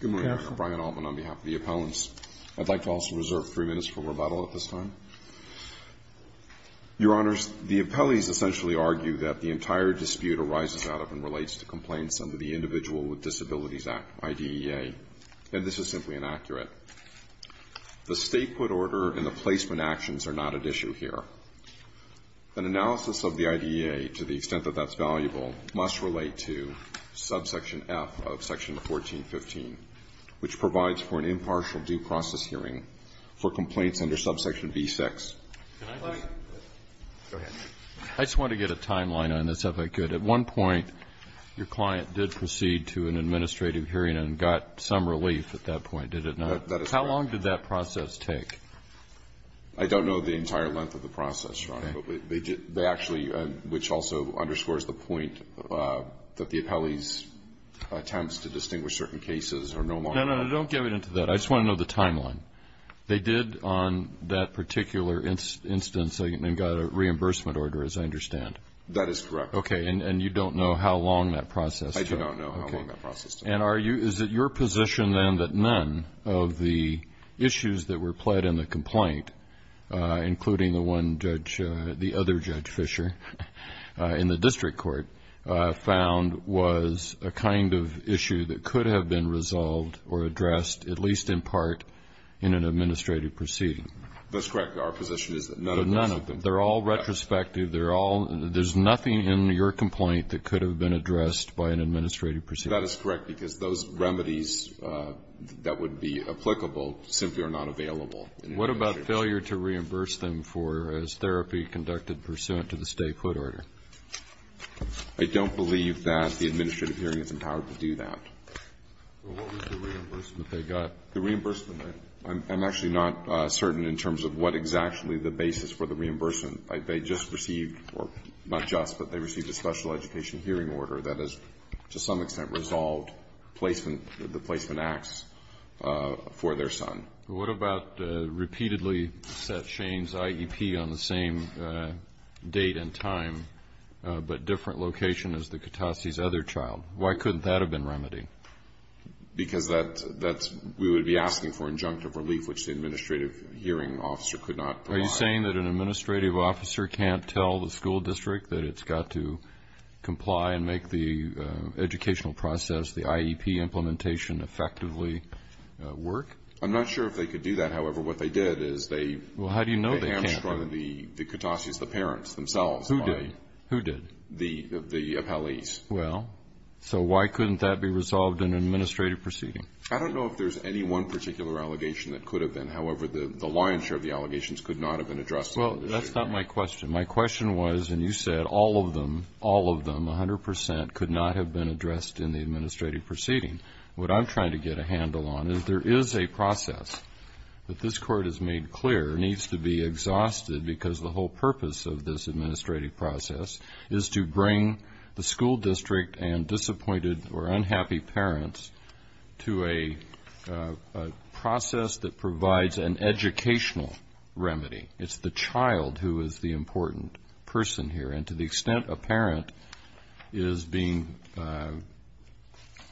Good morning. I'm Brian Altman on behalf of the appellants. I'd like to also reserve three minutes for rebuttal at this time. Your Honors, the appellees essentially argue that the entire dispute arises out of and relates to complaints under the Individual with Disabilities Act, IDEA, and this is simply inaccurate. The state put order and the placement actions are not at issue here. An analysis of the IDEA, to the extent that that's valuable, must relate to subsection F of section 1415, which provides for an impartial due process hearing for complaints under subsection B-6. I just want to get a timeline on this, if I could. At one point, your client did proceed to an administrative hearing and got some relief at that point, did it not? That is correct. How long did that process take? I don't know the entire length of the process, but they actually, which also underscores the point that the appellee's attempts to distinguish certain cases are no longer valid. No, no, no. Don't get me into that. I just want to know the timeline. They did on that particular instance and got a reimbursement order, as I understand. That is correct. Okay. And you don't know how long that process took? I do not know how long that process took. And are you, is it your position then that none of the issues that were pled in the complaint, including the one Judge, the other Judge Fischer, in the district court, found was a kind of issue that could have been resolved or addressed, at least in part, in an administrative proceeding? That's correct. Our position is that none of them. None of them. They're all retrospective, they're all, there's nothing in your complaint that could have been addressed by an administrative proceeding. That is correct, because those remedies that would be applicable simply are not available. What about failure to reimburse them for, as therapy conducted pursuant to the stay-put order? I don't believe that the administrative hearing is empowered to do that. What was the reimbursement they got? The reimbursement, I'm actually not certain in terms of what exactly the basis for the reimbursement. They just received, or not just, but they received a special education hearing order that has, to some extent, resolved placement, the placement acts for their son. What about repeatedly set Shane's IEP on the same date and time, but different location as the Kitasi's other child? Why couldn't that have been remedied? Because that's, we would be asking for injunctive relief, which the administrative hearing officer could not provide. Are you saying that an administrative officer can't tell the school district that it's got to comply and make the educational process, the IEP implementation, effectively work? I'm not sure if they could do that. However, what they did is they, Well, how do you know they can't? They hamstrung the Kitasi's, the parents themselves. Who did? Who did? The appellees. Well, so why couldn't that be resolved in an administrative proceeding? I don't know if there's any one particular allegation that could have been. However, the lion's share of the Well, that's not my question. My question was, and you said all of them, all of them, 100 percent, could not have been addressed in the administrative proceeding. What I'm trying to get a handle on is there is a process that this Court has made clear needs to be exhausted because the whole purpose of this administrative process is to bring the school district and disappointed or unhappy parents to a process that provides an educational remedy. It's the child who is the important person here. And to the extent a parent is being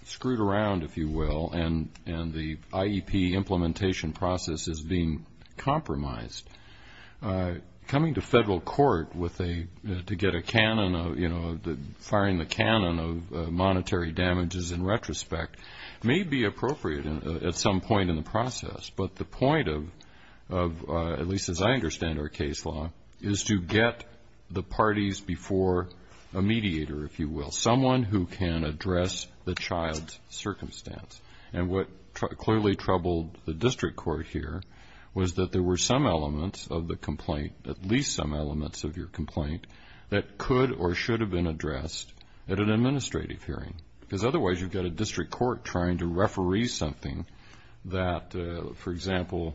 screwed around, if you will, and the IEP implementation process is being compromised, coming to federal court with a, to get a canon of, you know, firing the canon of monetary damages in retrospect may be appropriate at some point in the process. But the point of, at least as I understand our case law, is to get the parties before a mediator, if you will, someone who can address the child's circumstance. And what clearly troubled the district court here was that there were some elements of the complaint, at least some elements of your complaint, that could or should have been addressed at an administrative hearing. Because otherwise you've got a district court trying to referee something that, for example,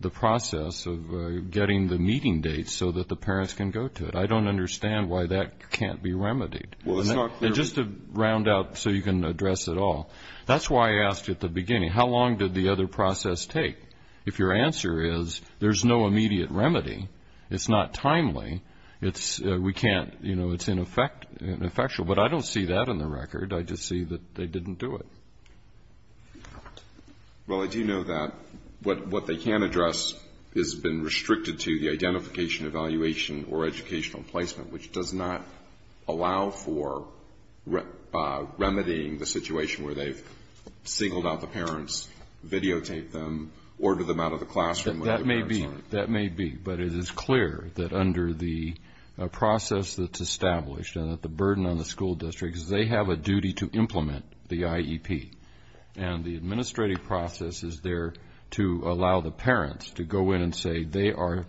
the process of getting the meeting dates so that the parents can go to it. I don't understand why that can't be remedied. Well, it's not clear. And just to round up so you can address it all. That's why I asked at the beginning, how long did the other process take? If your answer is there's no immediate remedy, it's not timely, it's, we can't, you know, it's ineffectual. But I don't see that in the record. I just see that they didn't do it. Well, I do know that what they can address has been restricted to the identification, evaluation, or educational placement, which does not allow for remedying the situation where they've singled out the parents, videotaped them, ordered them out of the classroom. That may be. But it is clear that under the process that's established and that the burden on the school districts, they have a duty to implement the IEP. And the administrative process is there to allow the parents to go in and say they are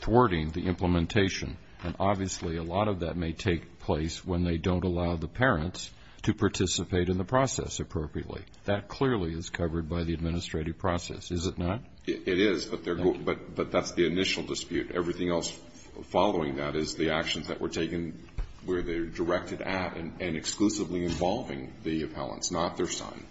thwarting the implementation. And obviously a lot of that may take place when they don't allow the parents to participate in the process appropriately. That clearly is covered by the administrative process, is it not? It is, but that's the initial dispute. Everything else following that is the actions that were taken where they're directed at and exclusively involving the appellants, not their son.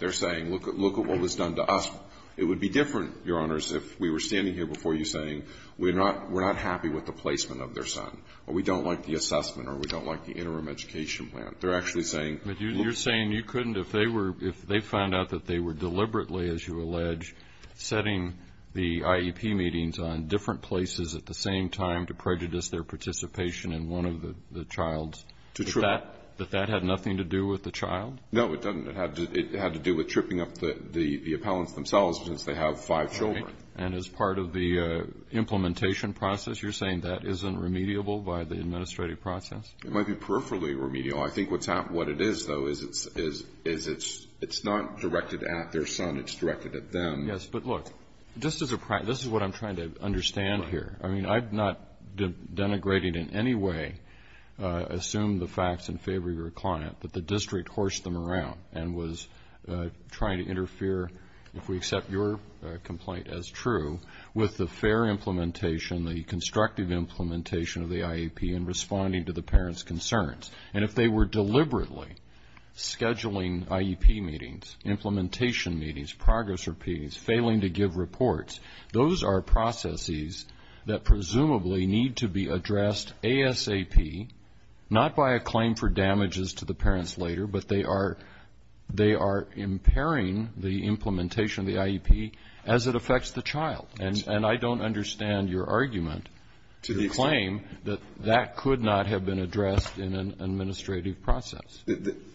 They're saying, look at what was done to us. It would be different, Your Honors, if we were standing here before you saying we're not happy with the placement of their son, or we don't like the assessment, or we don't like the interim education plan. They're actually saying. But you're saying you couldn't, if they were, if they found out that they were deliberately, as you allege, setting the IEP meetings on different places at the same time to prejudice their participation in one of the childs, that that had nothing to do with the child? No, it doesn't. It had to do with tripping up the appellants themselves since they have five children. And as part of the implementation process, you're saying that isn't remediable by the administrative process? It might be peripherally remedial. I think what it is, though, is it's not directed at their son. It's directed at them. Yes, but look, this is what I'm trying to understand here. I mean, I'm not denigrating in any way, assume the facts in favor of your client, that the district horsed them around and was trying to interfere, if we accept your complaint as true, with the fair implementation, the constructive implementation of the IEP, and responding to the parents' concerns. And if they were deliberately scheduling IEP meetings, implementation meetings, progress repeats, failing to give reports, those are processes that presumably need to be addressed ASAP, not by a claim for damages to the parents later, but they are impairing the implementation of the IEP as it affects the child. And I don't understand your argument, your claim, that that could not have been addressed in an administrative process.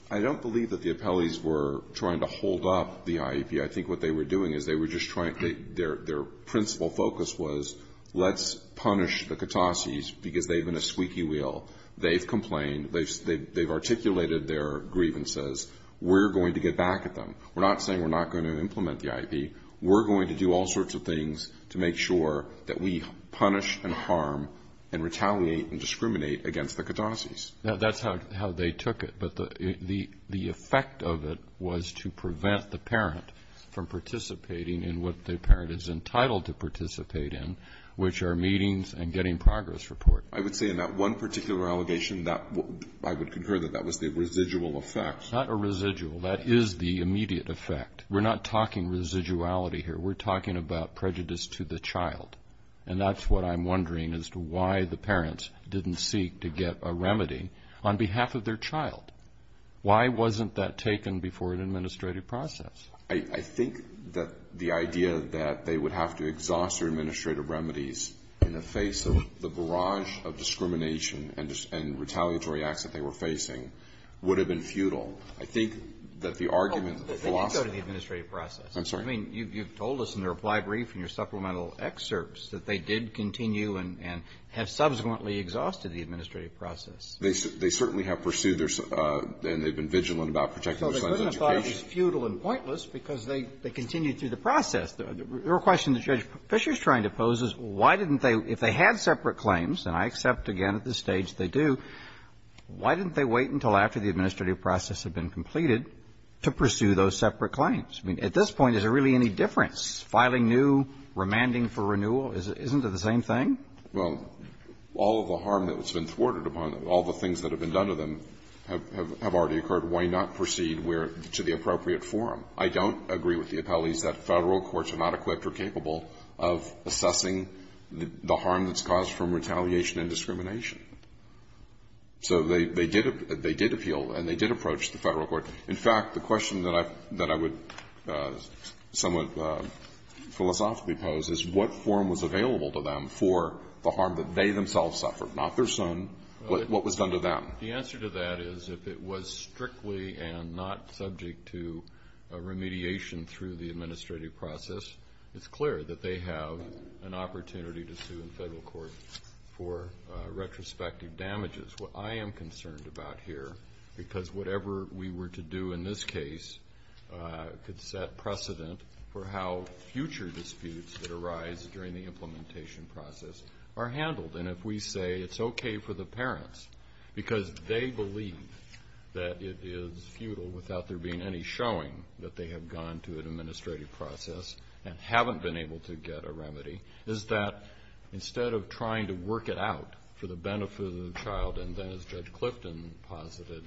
I don't believe that the appellees were trying to hold up the IEP. I think what they were doing is they were just trying to get their principal focus was let's punish the Katases because they've been a squeaky wheel. They've complained. They've articulated their grievances. We're going to get back at them. We're not saying we're not going to implement the IEP. We're going to do all sorts of things to make sure that we punish and harm and retaliate and discriminate against the Katases. That's how they took it. But the effect of it was to prevent the parent from participating in what the parent is entitled to participate in, which are meetings and getting progress reports. I would say in that one particular allegation that I would concur that that was the residual effect. Not a residual. That is the immediate effect. We're not talking residuality here. We're talking about prejudice to the child. And that's what I'm wondering as to why the parents didn't seek to get a remedy on behalf of their child. Why wasn't that taken before an administrative process? I think that the idea that they would have to exhaust their administrative remedies in the face of the barrage of discrimination and retaliatory acts that they were facing would have been futile. I think that the argument of the philosophy of the administrative process. I'm sorry. I mean, you've told us in the reply brief in your supplemental excerpts that they did continue and have subsequently exhausted the administrative process. They certainly have pursued their own, and they've been vigilant about protecting their son's education. That's not to say it's futile and pointless, because they continued through the process. The question that Judge Fischer is trying to pose is, why didn't they, if they had separate claims, and I accept again at this stage they do, why didn't they wait until after the administrative process had been completed to pursue those separate claims? I mean, at this point, is there really any difference? Filing new, remanding for renewal, isn't it the same thing? Well, all of the harm that's been thwarted upon them, all the things that have been done to them have already occurred. Why not proceed to the appropriate forum? I don't agree with the appellees that Federal courts are not equipped or capable of assessing the harm that's caused from retaliation and discrimination. So they did appeal, and they did approach the Federal court. In fact, the question that I would somewhat philosophically pose is, what forum was available to them for the harm that they themselves suffered, not their son, what was done to them? The answer to that is, if it was strictly and not subject to remediation through the administrative process, it's clear that they have an opportunity to sue the Federal court for retrospective damages. What I am concerned about here, because whatever we were to do in this case could set precedent for how future disputes that arise during the implementation process are handled, and if we say it's okay for the parents because they believe that it is futile without there being any showing that they have gone to an administrative process and haven't been able to get a remedy, is that instead of trying to work it out for the benefit of the child and then, as Judge Clifton posited,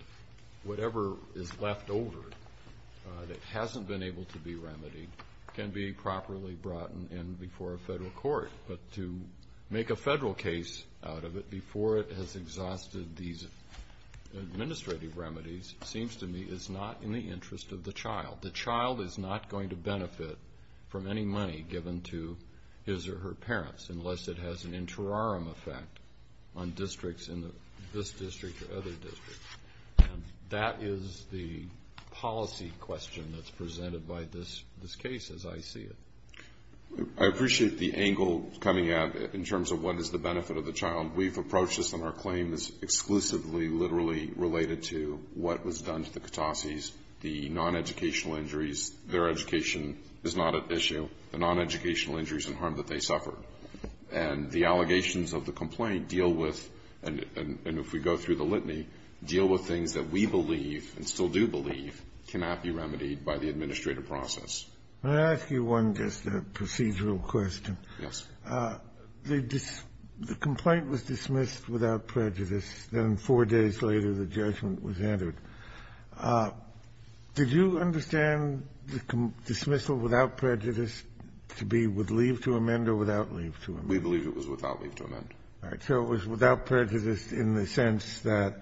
whatever is left over that hasn't been able to be remedied can be properly brought in before a Federal court. But to make a Federal case out of it before it has exhausted these administrative remedies seems to me is not in the interest of the child. The child is not going to benefit from any money given to his or her parents unless it has an interim effect on districts in this district or other districts. And that is the policy question that's presented by this case as I see it. I appreciate the angle coming out in terms of what is the benefit of the child. We've approached this, and our claim is exclusively literally related to what was done to the Katases, the non-educational injuries. Their education is not at issue. The non-educational injuries and harm that they suffered. And the allegations of the complaint deal with, and if we go through the litany, deal with things that we believe and still do believe cannot be remedied by the administrative process. Can I ask you one just procedural question? Yes. The complaint was dismissed without prejudice. Then four days later, the judgment was entered. Did you understand the dismissal without prejudice to be with leave to amend or without leave to amend? We believe it was without leave to amend. All right. So it was without prejudice in the sense that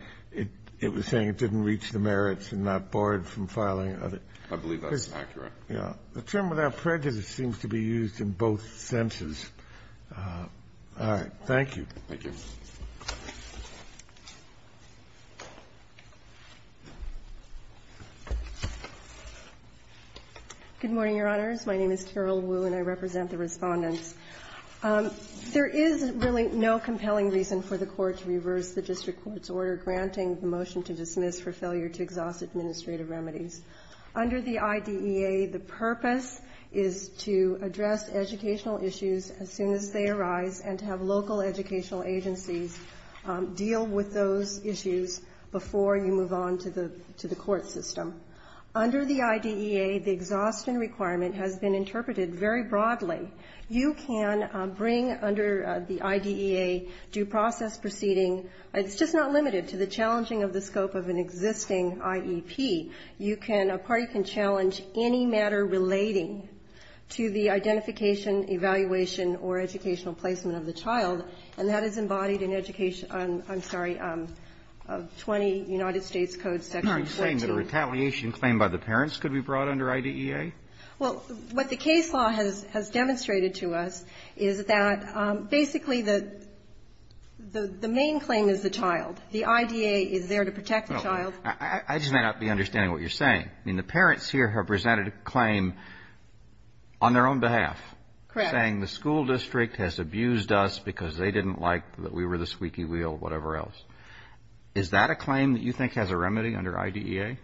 it was saying it didn't reach the merits and not barred from filing other. I believe that's accurate. Yeah. The term without prejudice seems to be used in both senses. All right. Thank you. Thank you. Good morning, Your Honors. My name is Carol Wu, and I represent the Respondents. There is really no compelling reason for the Court to reverse the district court's order granting the motion to dismiss for failure to exhaust administrative remedies. Under the IDEA, the purpose is to address educational issues as soon as they arise and to have local educational agencies deal with those issues before you move on to the court system. Under the IDEA, the exhaustion requirement has been interpreted very broadly. You can bring under the IDEA due process proceeding. It's just not limited to the challenging of the scope of an existing IEP. You can or a party can challenge any matter relating to the identification, evaluation, or educational placement of the child, and that is embodied in education of 20 United States Code section 14. You're not saying that a retaliation claim by the parents could be brought under IDEA? Well, what the case law has demonstrated to us is that, basically, the main claim is the child. The IDEA is there to protect the child. I just may not be understanding what you're saying. I mean, the parents here have presented a claim on their own behalf. Correct. Saying the school district has abused us because they didn't like that we were the squeaky wheel, whatever else. Is that a claim that you think has a remedy under IDEA?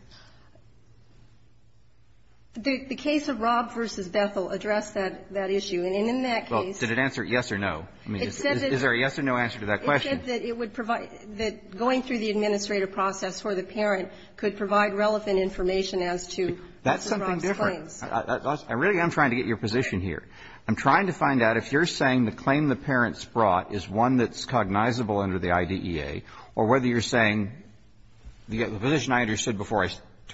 The case of Robb v. Bethel addressed that issue. And in that case ---- Well, did it answer yes or no? I mean, is there a yes or no answer to that question? It said that it would provide the going through the administrative process for the parent could provide relevant information as to Robb's claims. That's something different. I really am trying to get your position here. I'm trying to find out if you're saying the claim the parents brought is one that's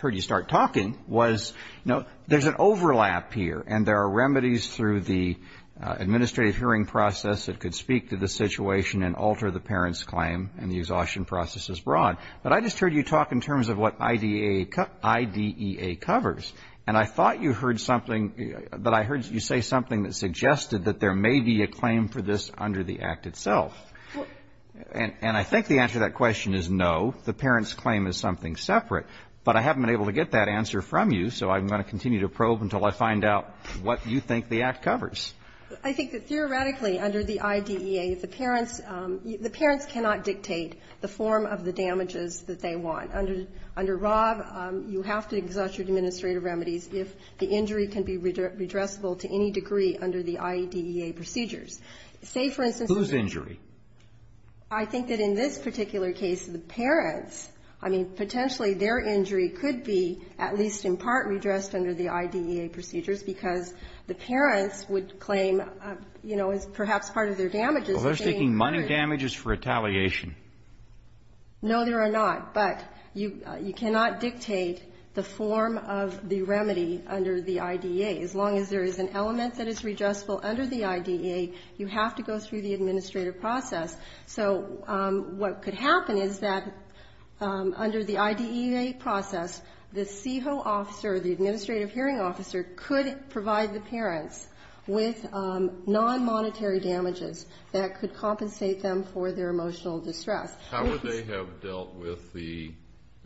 I just heard you start talking, was, you know, there's an overlap here and there are remedies through the administrative hearing process that could speak to the situation and alter the parent's claim and the exhaustion process is broad. But I just heard you talk in terms of what IDEA covers. And I thought you heard something that I heard you say something that suggested that there may be a claim for this under the Act itself. And I think the answer to that question is no. The parent's claim is something separate. But I haven't been able to get that answer from you, so I'm going to continue to probe until I find out what you think the Act covers. I think that theoretically under the IDEA, the parents ---- the parents cannot dictate the form of the damages that they want. Under Robb, you have to exhaust your administrative remedies if the injury can be redressable to any degree under the IDEA procedures. Say, for instance ---- Whose injury? I think that in this particular case, the parents, I mean, potentially their injury could be at least in part redressed under the IDEA procedures because the parents would claim, you know, as perhaps part of their damages ---- Well, they're seeking money damages for retaliation. No, they are not. But you cannot dictate the form of the remedy under the IDEA. As long as there is an element that is redressable under the IDEA, you have to go through the administrative process. So what could happen is that under the IDEA process, the CEHO officer, the administrative hearing officer, could provide the parents with nonmonetary damages that could compensate them for their emotional distress. How would they have dealt with the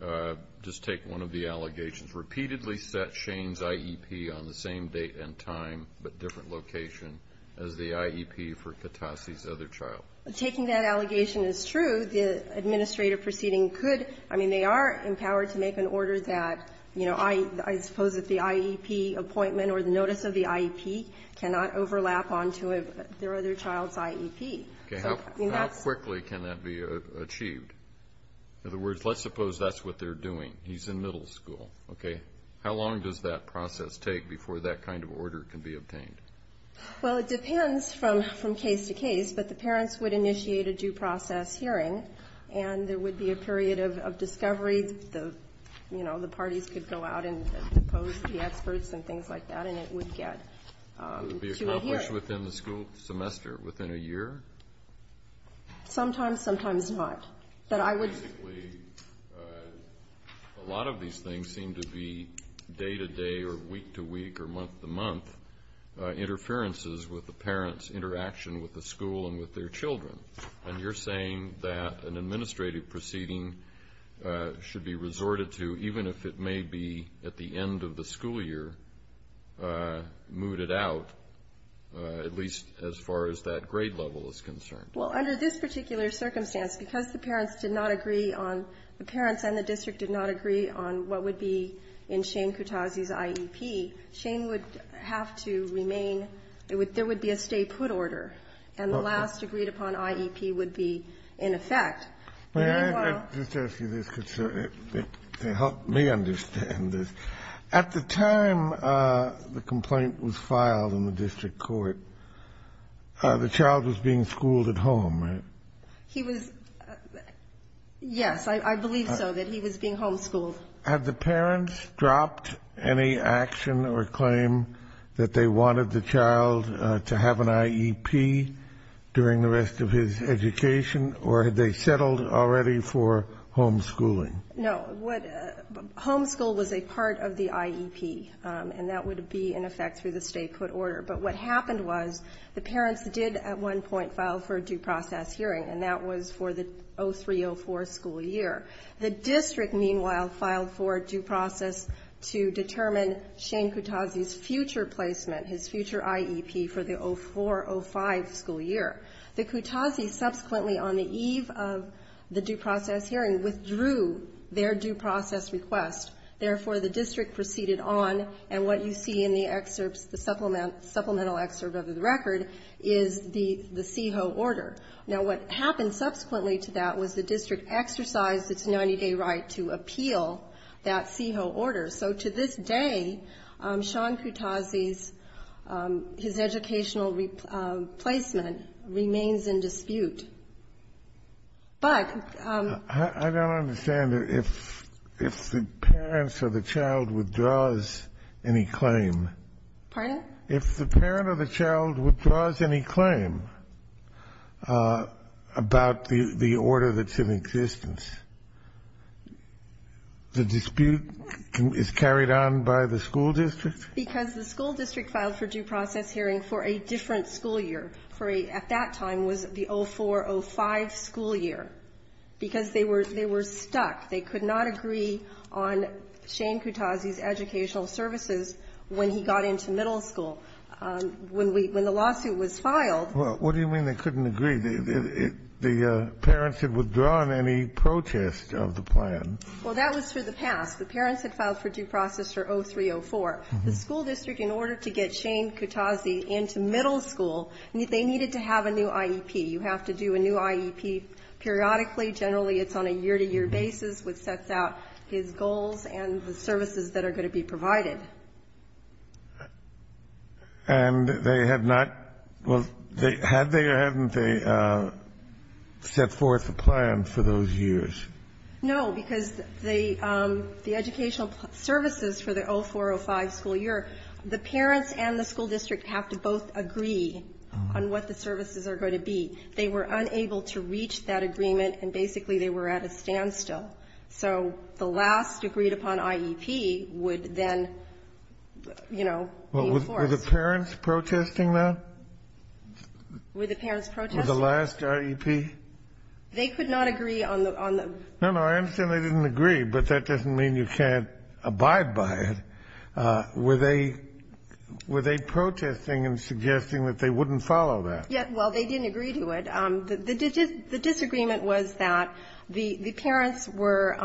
---- just take one of the allegations. Repeatedly set Shane's IEP on the same date and time but different location as the IEP for Katase's other child. Taking that allegation as true, the administrative proceeding could ---- I mean, they are empowered to make an order that, you know, I suppose that the IEP appointment or the notice of the IEP cannot overlap onto their other child's IEP. Okay. How quickly can that be achieved? In other words, let's suppose that's what they're doing. He's in middle school. Okay. How long does that process take before that kind of order can be obtained? Well, it depends from case to case, but the parents would initiate a due process hearing and there would be a period of discovery. You know, the parties could go out and propose to the experts and things like that, and it would get to a hearing. It would be accomplished within the school semester, within a year? Sometimes, sometimes not. But I would ---- A lot of these things seem to be day-to-day or week-to-week or month-to-month interferences with the parents' interaction with the school and with their children. And you're saying that an administrative proceeding should be resorted to, even if it may be at the end of the school year, mooted out, at least as far as that grade level is concerned. Well, under this particular circumstance, because the parents did not agree on ---- the parents and the district did not agree on what would be in Shane Kutazy's IEP, Shane would have to remain ---- there would be a stay-put order, and the last agreed-upon IEP would be in effect. Meanwhile ---- May I just ask you this, because it helped me understand this. At the time the complaint was filed in the district court, the child was being schooled at home, right? He was ---- yes, I believe so, that he was being homeschooled. Had the parents dropped any action or claim that they wanted the child to have an IEP during the rest of his education, or had they settled already for homeschooling? No. Homeschool was a part of the IEP, and that would be in effect through the stay-put order. But what happened was the parents did at one point file for a due process hearing, and that was for the 03-04 school year. The district, meanwhile, filed for a due process to determine Shane Kutazy's future placement, his future IEP for the 04-05 school year. The Kutazy subsequently, on the eve of the due process hearing, withdrew their due process request. Therefore, the district proceeded on. And what you see in the excerpts, the supplemental excerpt of the record, is the CEHO order. Now, what happened subsequently to that was the district exercised its 90-day right to appeal that CEHO order. So to this day, Shane Kutazy's, his educational placement remains in dispute. But ---- If the parents or the child withdraws any claim ---- Pardon? If the parent or the child withdraws any claim about the order that's in existence, the dispute is carried on by the school district? Because the school district filed for due process hearing for a different school year, for a at that time was the 04-05 school year, because they were stuck. They could not agree on Shane Kutazy's educational services when he got into middle school. When we ---- when the lawsuit was filed ---- Well, what do you mean they couldn't agree? The parents had withdrawn any protest of the plan. Well, that was for the past. The parents had filed for due process for 03-04. The school district, in order to get Shane Kutazy into middle school, they needed to have a new IEP. You have to do a new IEP periodically. Generally, it's on a year-to-year basis, which sets out his goals and the services that are going to be provided. And they have not ---- had they or haven't they set forth a plan for those years? No, because the educational services for the 04-05 school year, the parents and the school district have to both agree on what the services are going to be. They were unable to reach that agreement, and basically they were at a standstill. So the last agreed-upon IEP would then, you know, be enforced. Well, were the parents protesting that? Were the parents protesting? Were the last IEP? They could not agree on the ---- No, no. I understand they didn't agree, but that doesn't mean you can't abide by it. Were they protesting and suggesting that they wouldn't follow that? Well, they didn't agree to it. The disagreement was that the parents were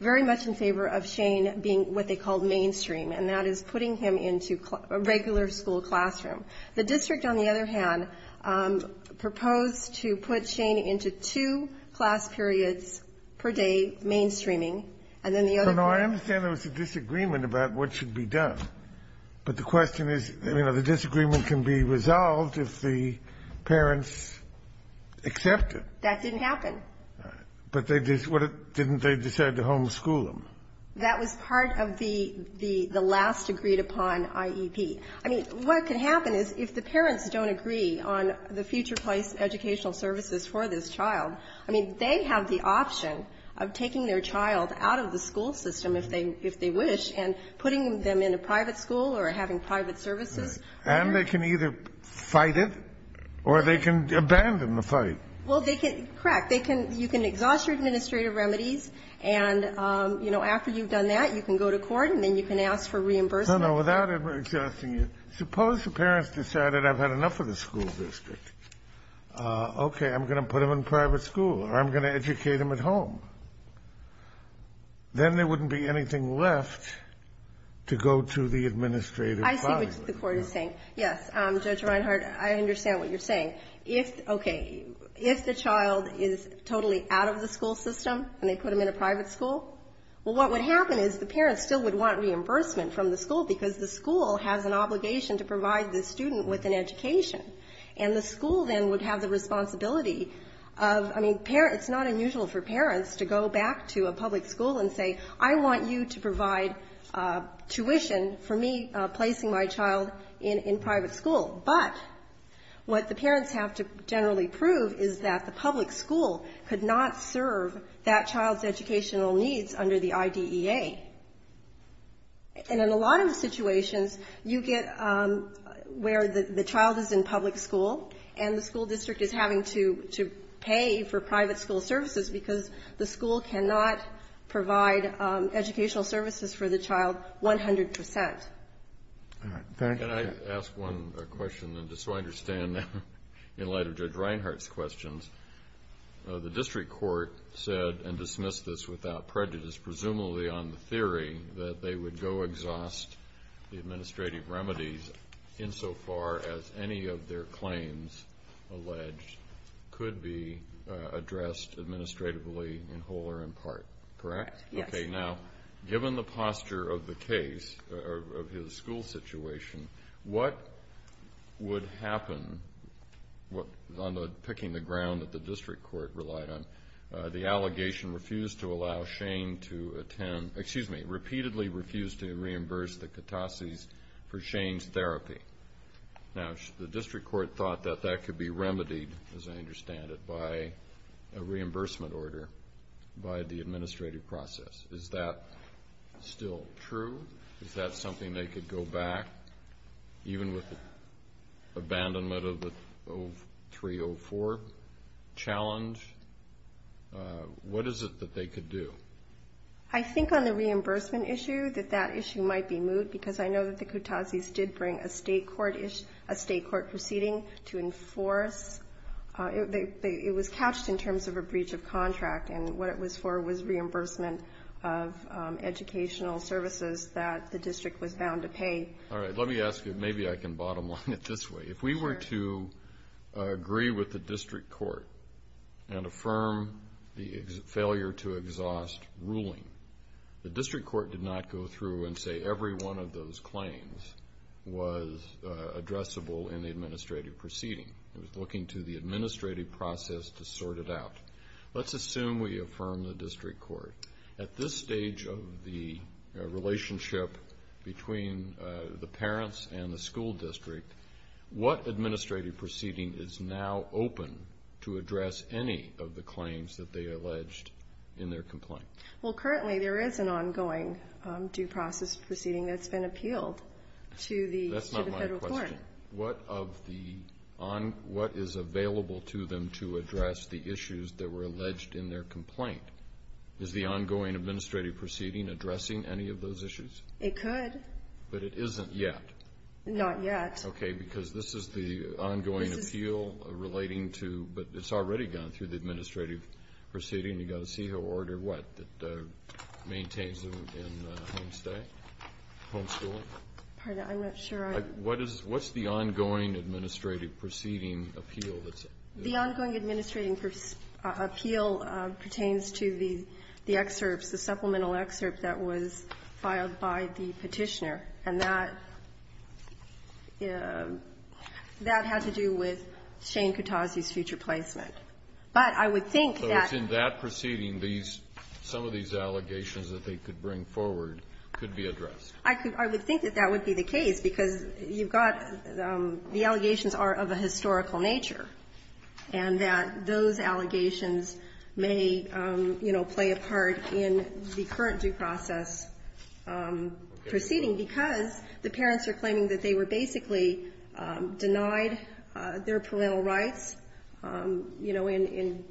very much in favor of Shane being what they called mainstream, and that is putting him into a regular school classroom. The district, on the other hand, proposed to put Shane into two class periods per day mainstreaming, and then the other one ---- I understand there was a disagreement about what should be done. But the question is, you know, the disagreement can be resolved if the parents accept it. That didn't happen. But they didn't decide to homeschool him. That was part of the last agreed-upon IEP. I mean, what can happen is if the parents don't agree on the future place educational services for this child, I mean, they have the option of taking their child out of the school system if they wish and putting them in a private school or having private services. And they can either fight it or they can abandon the fight. Well, they can ---- correct. They can ---- you can exhaust your administrative remedies and, you know, after you've done that, you can go to court and then you can ask for reimbursement. No, no. Without exhausting it, suppose the parents decided I've had enough of the school district. Okay. I'm going to put him in private school or I'm going to educate him at home. Then there wouldn't be anything left to go to the administrative body. I see what the Court is saying. Yes. Judge Reinhart, I understand what you're saying. If the child is totally out of the school system and they put him in a private school, well, what would happen is the parents still would want reimbursement from the school because the school has an obligation to provide the student with an education. And the school then would have the responsibility of ---- I mean, it's not unusual for parents to go back to a public school and say, I want you to provide tuition for me placing my child in private school. But what the parents have to generally prove is that the public school could not serve that child's educational needs under the IDEA. And in a lot of the situations, you get where the child is in public school and the school cannot provide educational services for the child 100 percent. All right. Can I ask one question? And just so I understand, in light of Judge Reinhart's questions, the district court said and dismissed this without prejudice, presumably on the theory that they would go exhaust the administrative remedies insofar as any of their claims alleged could be addressed administratively in whole or in part. Correct? Yes. Okay. Now, given the posture of the case, of his school situation, what would happen on the picking the ground that the district court relied on? The allegation refused to allow Shane to attend ---- excuse me, repeatedly refused to reimburse the Katases for Shane's therapy. Now, the district court thought that that could be remedied, as I understand it, by a reimbursement order by the administrative process. Is that still true? Is that something they could go back, even with the abandonment of the 03-04 challenge? What is it that they could do? I think on the reimbursement issue that that issue might be moved because I know that the Katases did bring a state court proceeding to enforce. It was couched in terms of a breach of contract, and what it was for was reimbursement of educational services that the district was bound to pay. All right, let me ask you, maybe I can bottom line it this way. If we were to agree with the district court and affirm the failure to exhaust ruling, the district court did not go through and say every one of those claims was addressable in the administrative proceeding. It was looking to the administrative process to sort it out. Let's assume we affirm the district court. At this stage of the relationship between the parents and the school district, what administrative proceeding is now open to address any of the claims that they complain? Well, currently there is an ongoing due process proceeding that's been appealed to the federal court. That's not my question. What is available to them to address the issues that were alleged in their complaint? Is the ongoing administrative proceeding addressing any of those issues? It could. But it isn't yet? Not yet. Okay, because this is the ongoing appeal relating to, but it's already gone through the district court, what, that maintains them in homestay, homeschooling? Pardon me. I'm not sure I am. What is the ongoing administrative proceeding appeal? The ongoing administrative appeal pertains to the excerpts, the supplemental excerpt that was filed by the Petitioner, and that had to do with Shane Kutazy's future placement. But I would think that In that proceeding, these, some of these allegations that they could bring forward could be addressed. I could. I would think that that would be the case, because you've got, the allegations are of a historical nature, and that those allegations may, you know, play a part in the current due process proceeding, because the parents are claiming that they were basically denied their parental rights, you know, in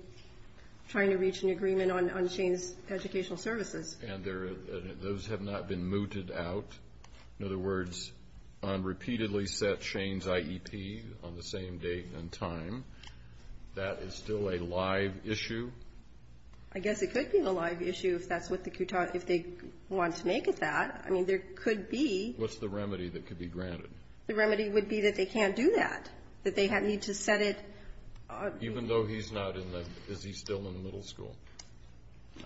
trying to reach an agreement on Shane's educational services. And those have not been mooted out? In other words, on repeatedly set Shane's IEP on the same date and time, that is still a live issue? I guess it could be a live issue if that's what the, if they want to make it that. I mean, there could be. What's the remedy that could be granted? The remedy would be that they can't do that, that they need to set it. Even though he's not in the, is he still in the middle school?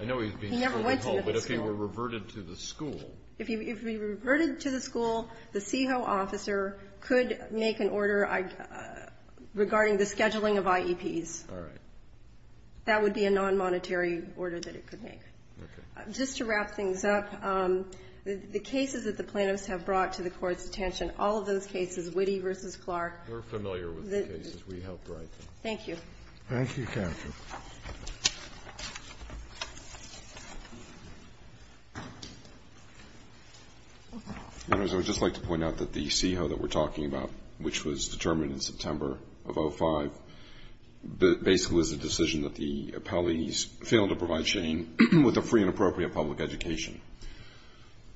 I know he's being held at home. He never went to middle school. But if he were reverted to the school. If he were reverted to the school, the CEHO officer could make an order regarding the scheduling of IEPs. All right. That would be a non-monetary order that it could make. Okay. Just to wrap things up, the cases that the plaintiffs have brought to the Court's attention, all of those cases, Witte v. Clark. We're familiar with the cases. We helped write them. Thank you. Thank you, counsel. I would just like to point out that the CEHO that we're talking about, which was determined in September of 2005, basically was a decision that the appellees failed to provide Shane with a free and appropriate public education.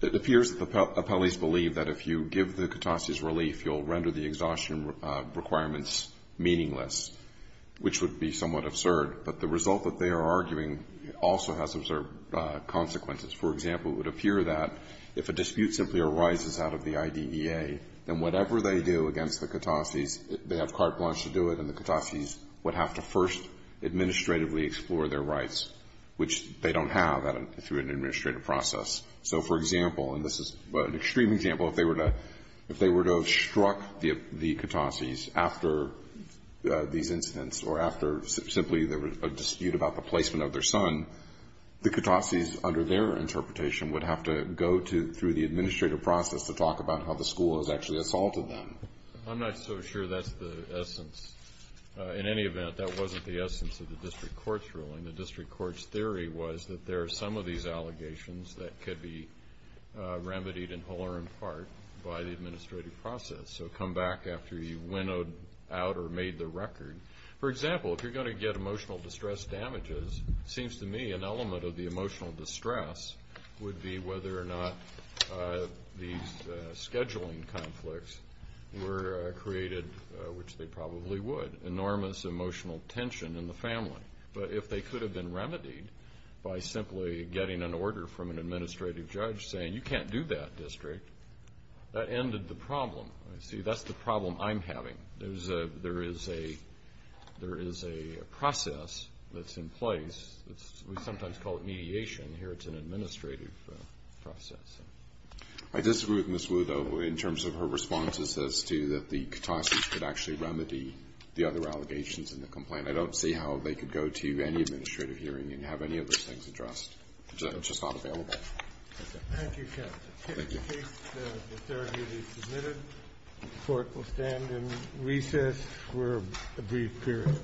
It appears that the appellees believe that if you give the catastases relief, you'll render the exhaustion requirements meaningless, which would be somewhat absurd. But the result that they are arguing also has absurd consequences. For example, it would appear that if a dispute simply arises out of the IDEA, then whatever they do against the catastases, they have carte blanche to do it, and the catastases would have to first administratively explore their rights, which they don't have through an administrative process. So, for example, and this is an extreme example, if they were to have struck the catastases after these incidents or after simply there was a dispute about the placement of their son, the catastases under their interpretation would have to go through the administrative process to talk about how the school has actually assaulted them. I'm not so sure that's the essence. In any event, that wasn't the essence of the district court's ruling. The district court's theory was that there are some of these allegations that could be remedied in whole or in part by the administrative process. So come back after you winnowed out or made the record. For example, if you're going to get emotional distress damages, it seems to me an element of the emotional distress would be whether or not these scheduling conflicts were created, which they probably would, enormous emotional tension in the family. But if they could have been remedied by simply getting an order from an administrative judge saying, you can't do that, district, that ended the problem. See, that's the problem I'm having. There is a process that's in place. We sometimes call it mediation. Here it's an administrative process. I disagree with Ms. Wu, though, in terms of her responses as to that the catastases could actually remedy the other allegations in the complaint. I don't see how they could go to any administrative hearing and have any of those things addressed. It's just not available. Thank you, counsel. Thank you. The case is submitted. The court will stand in recess for a brief period.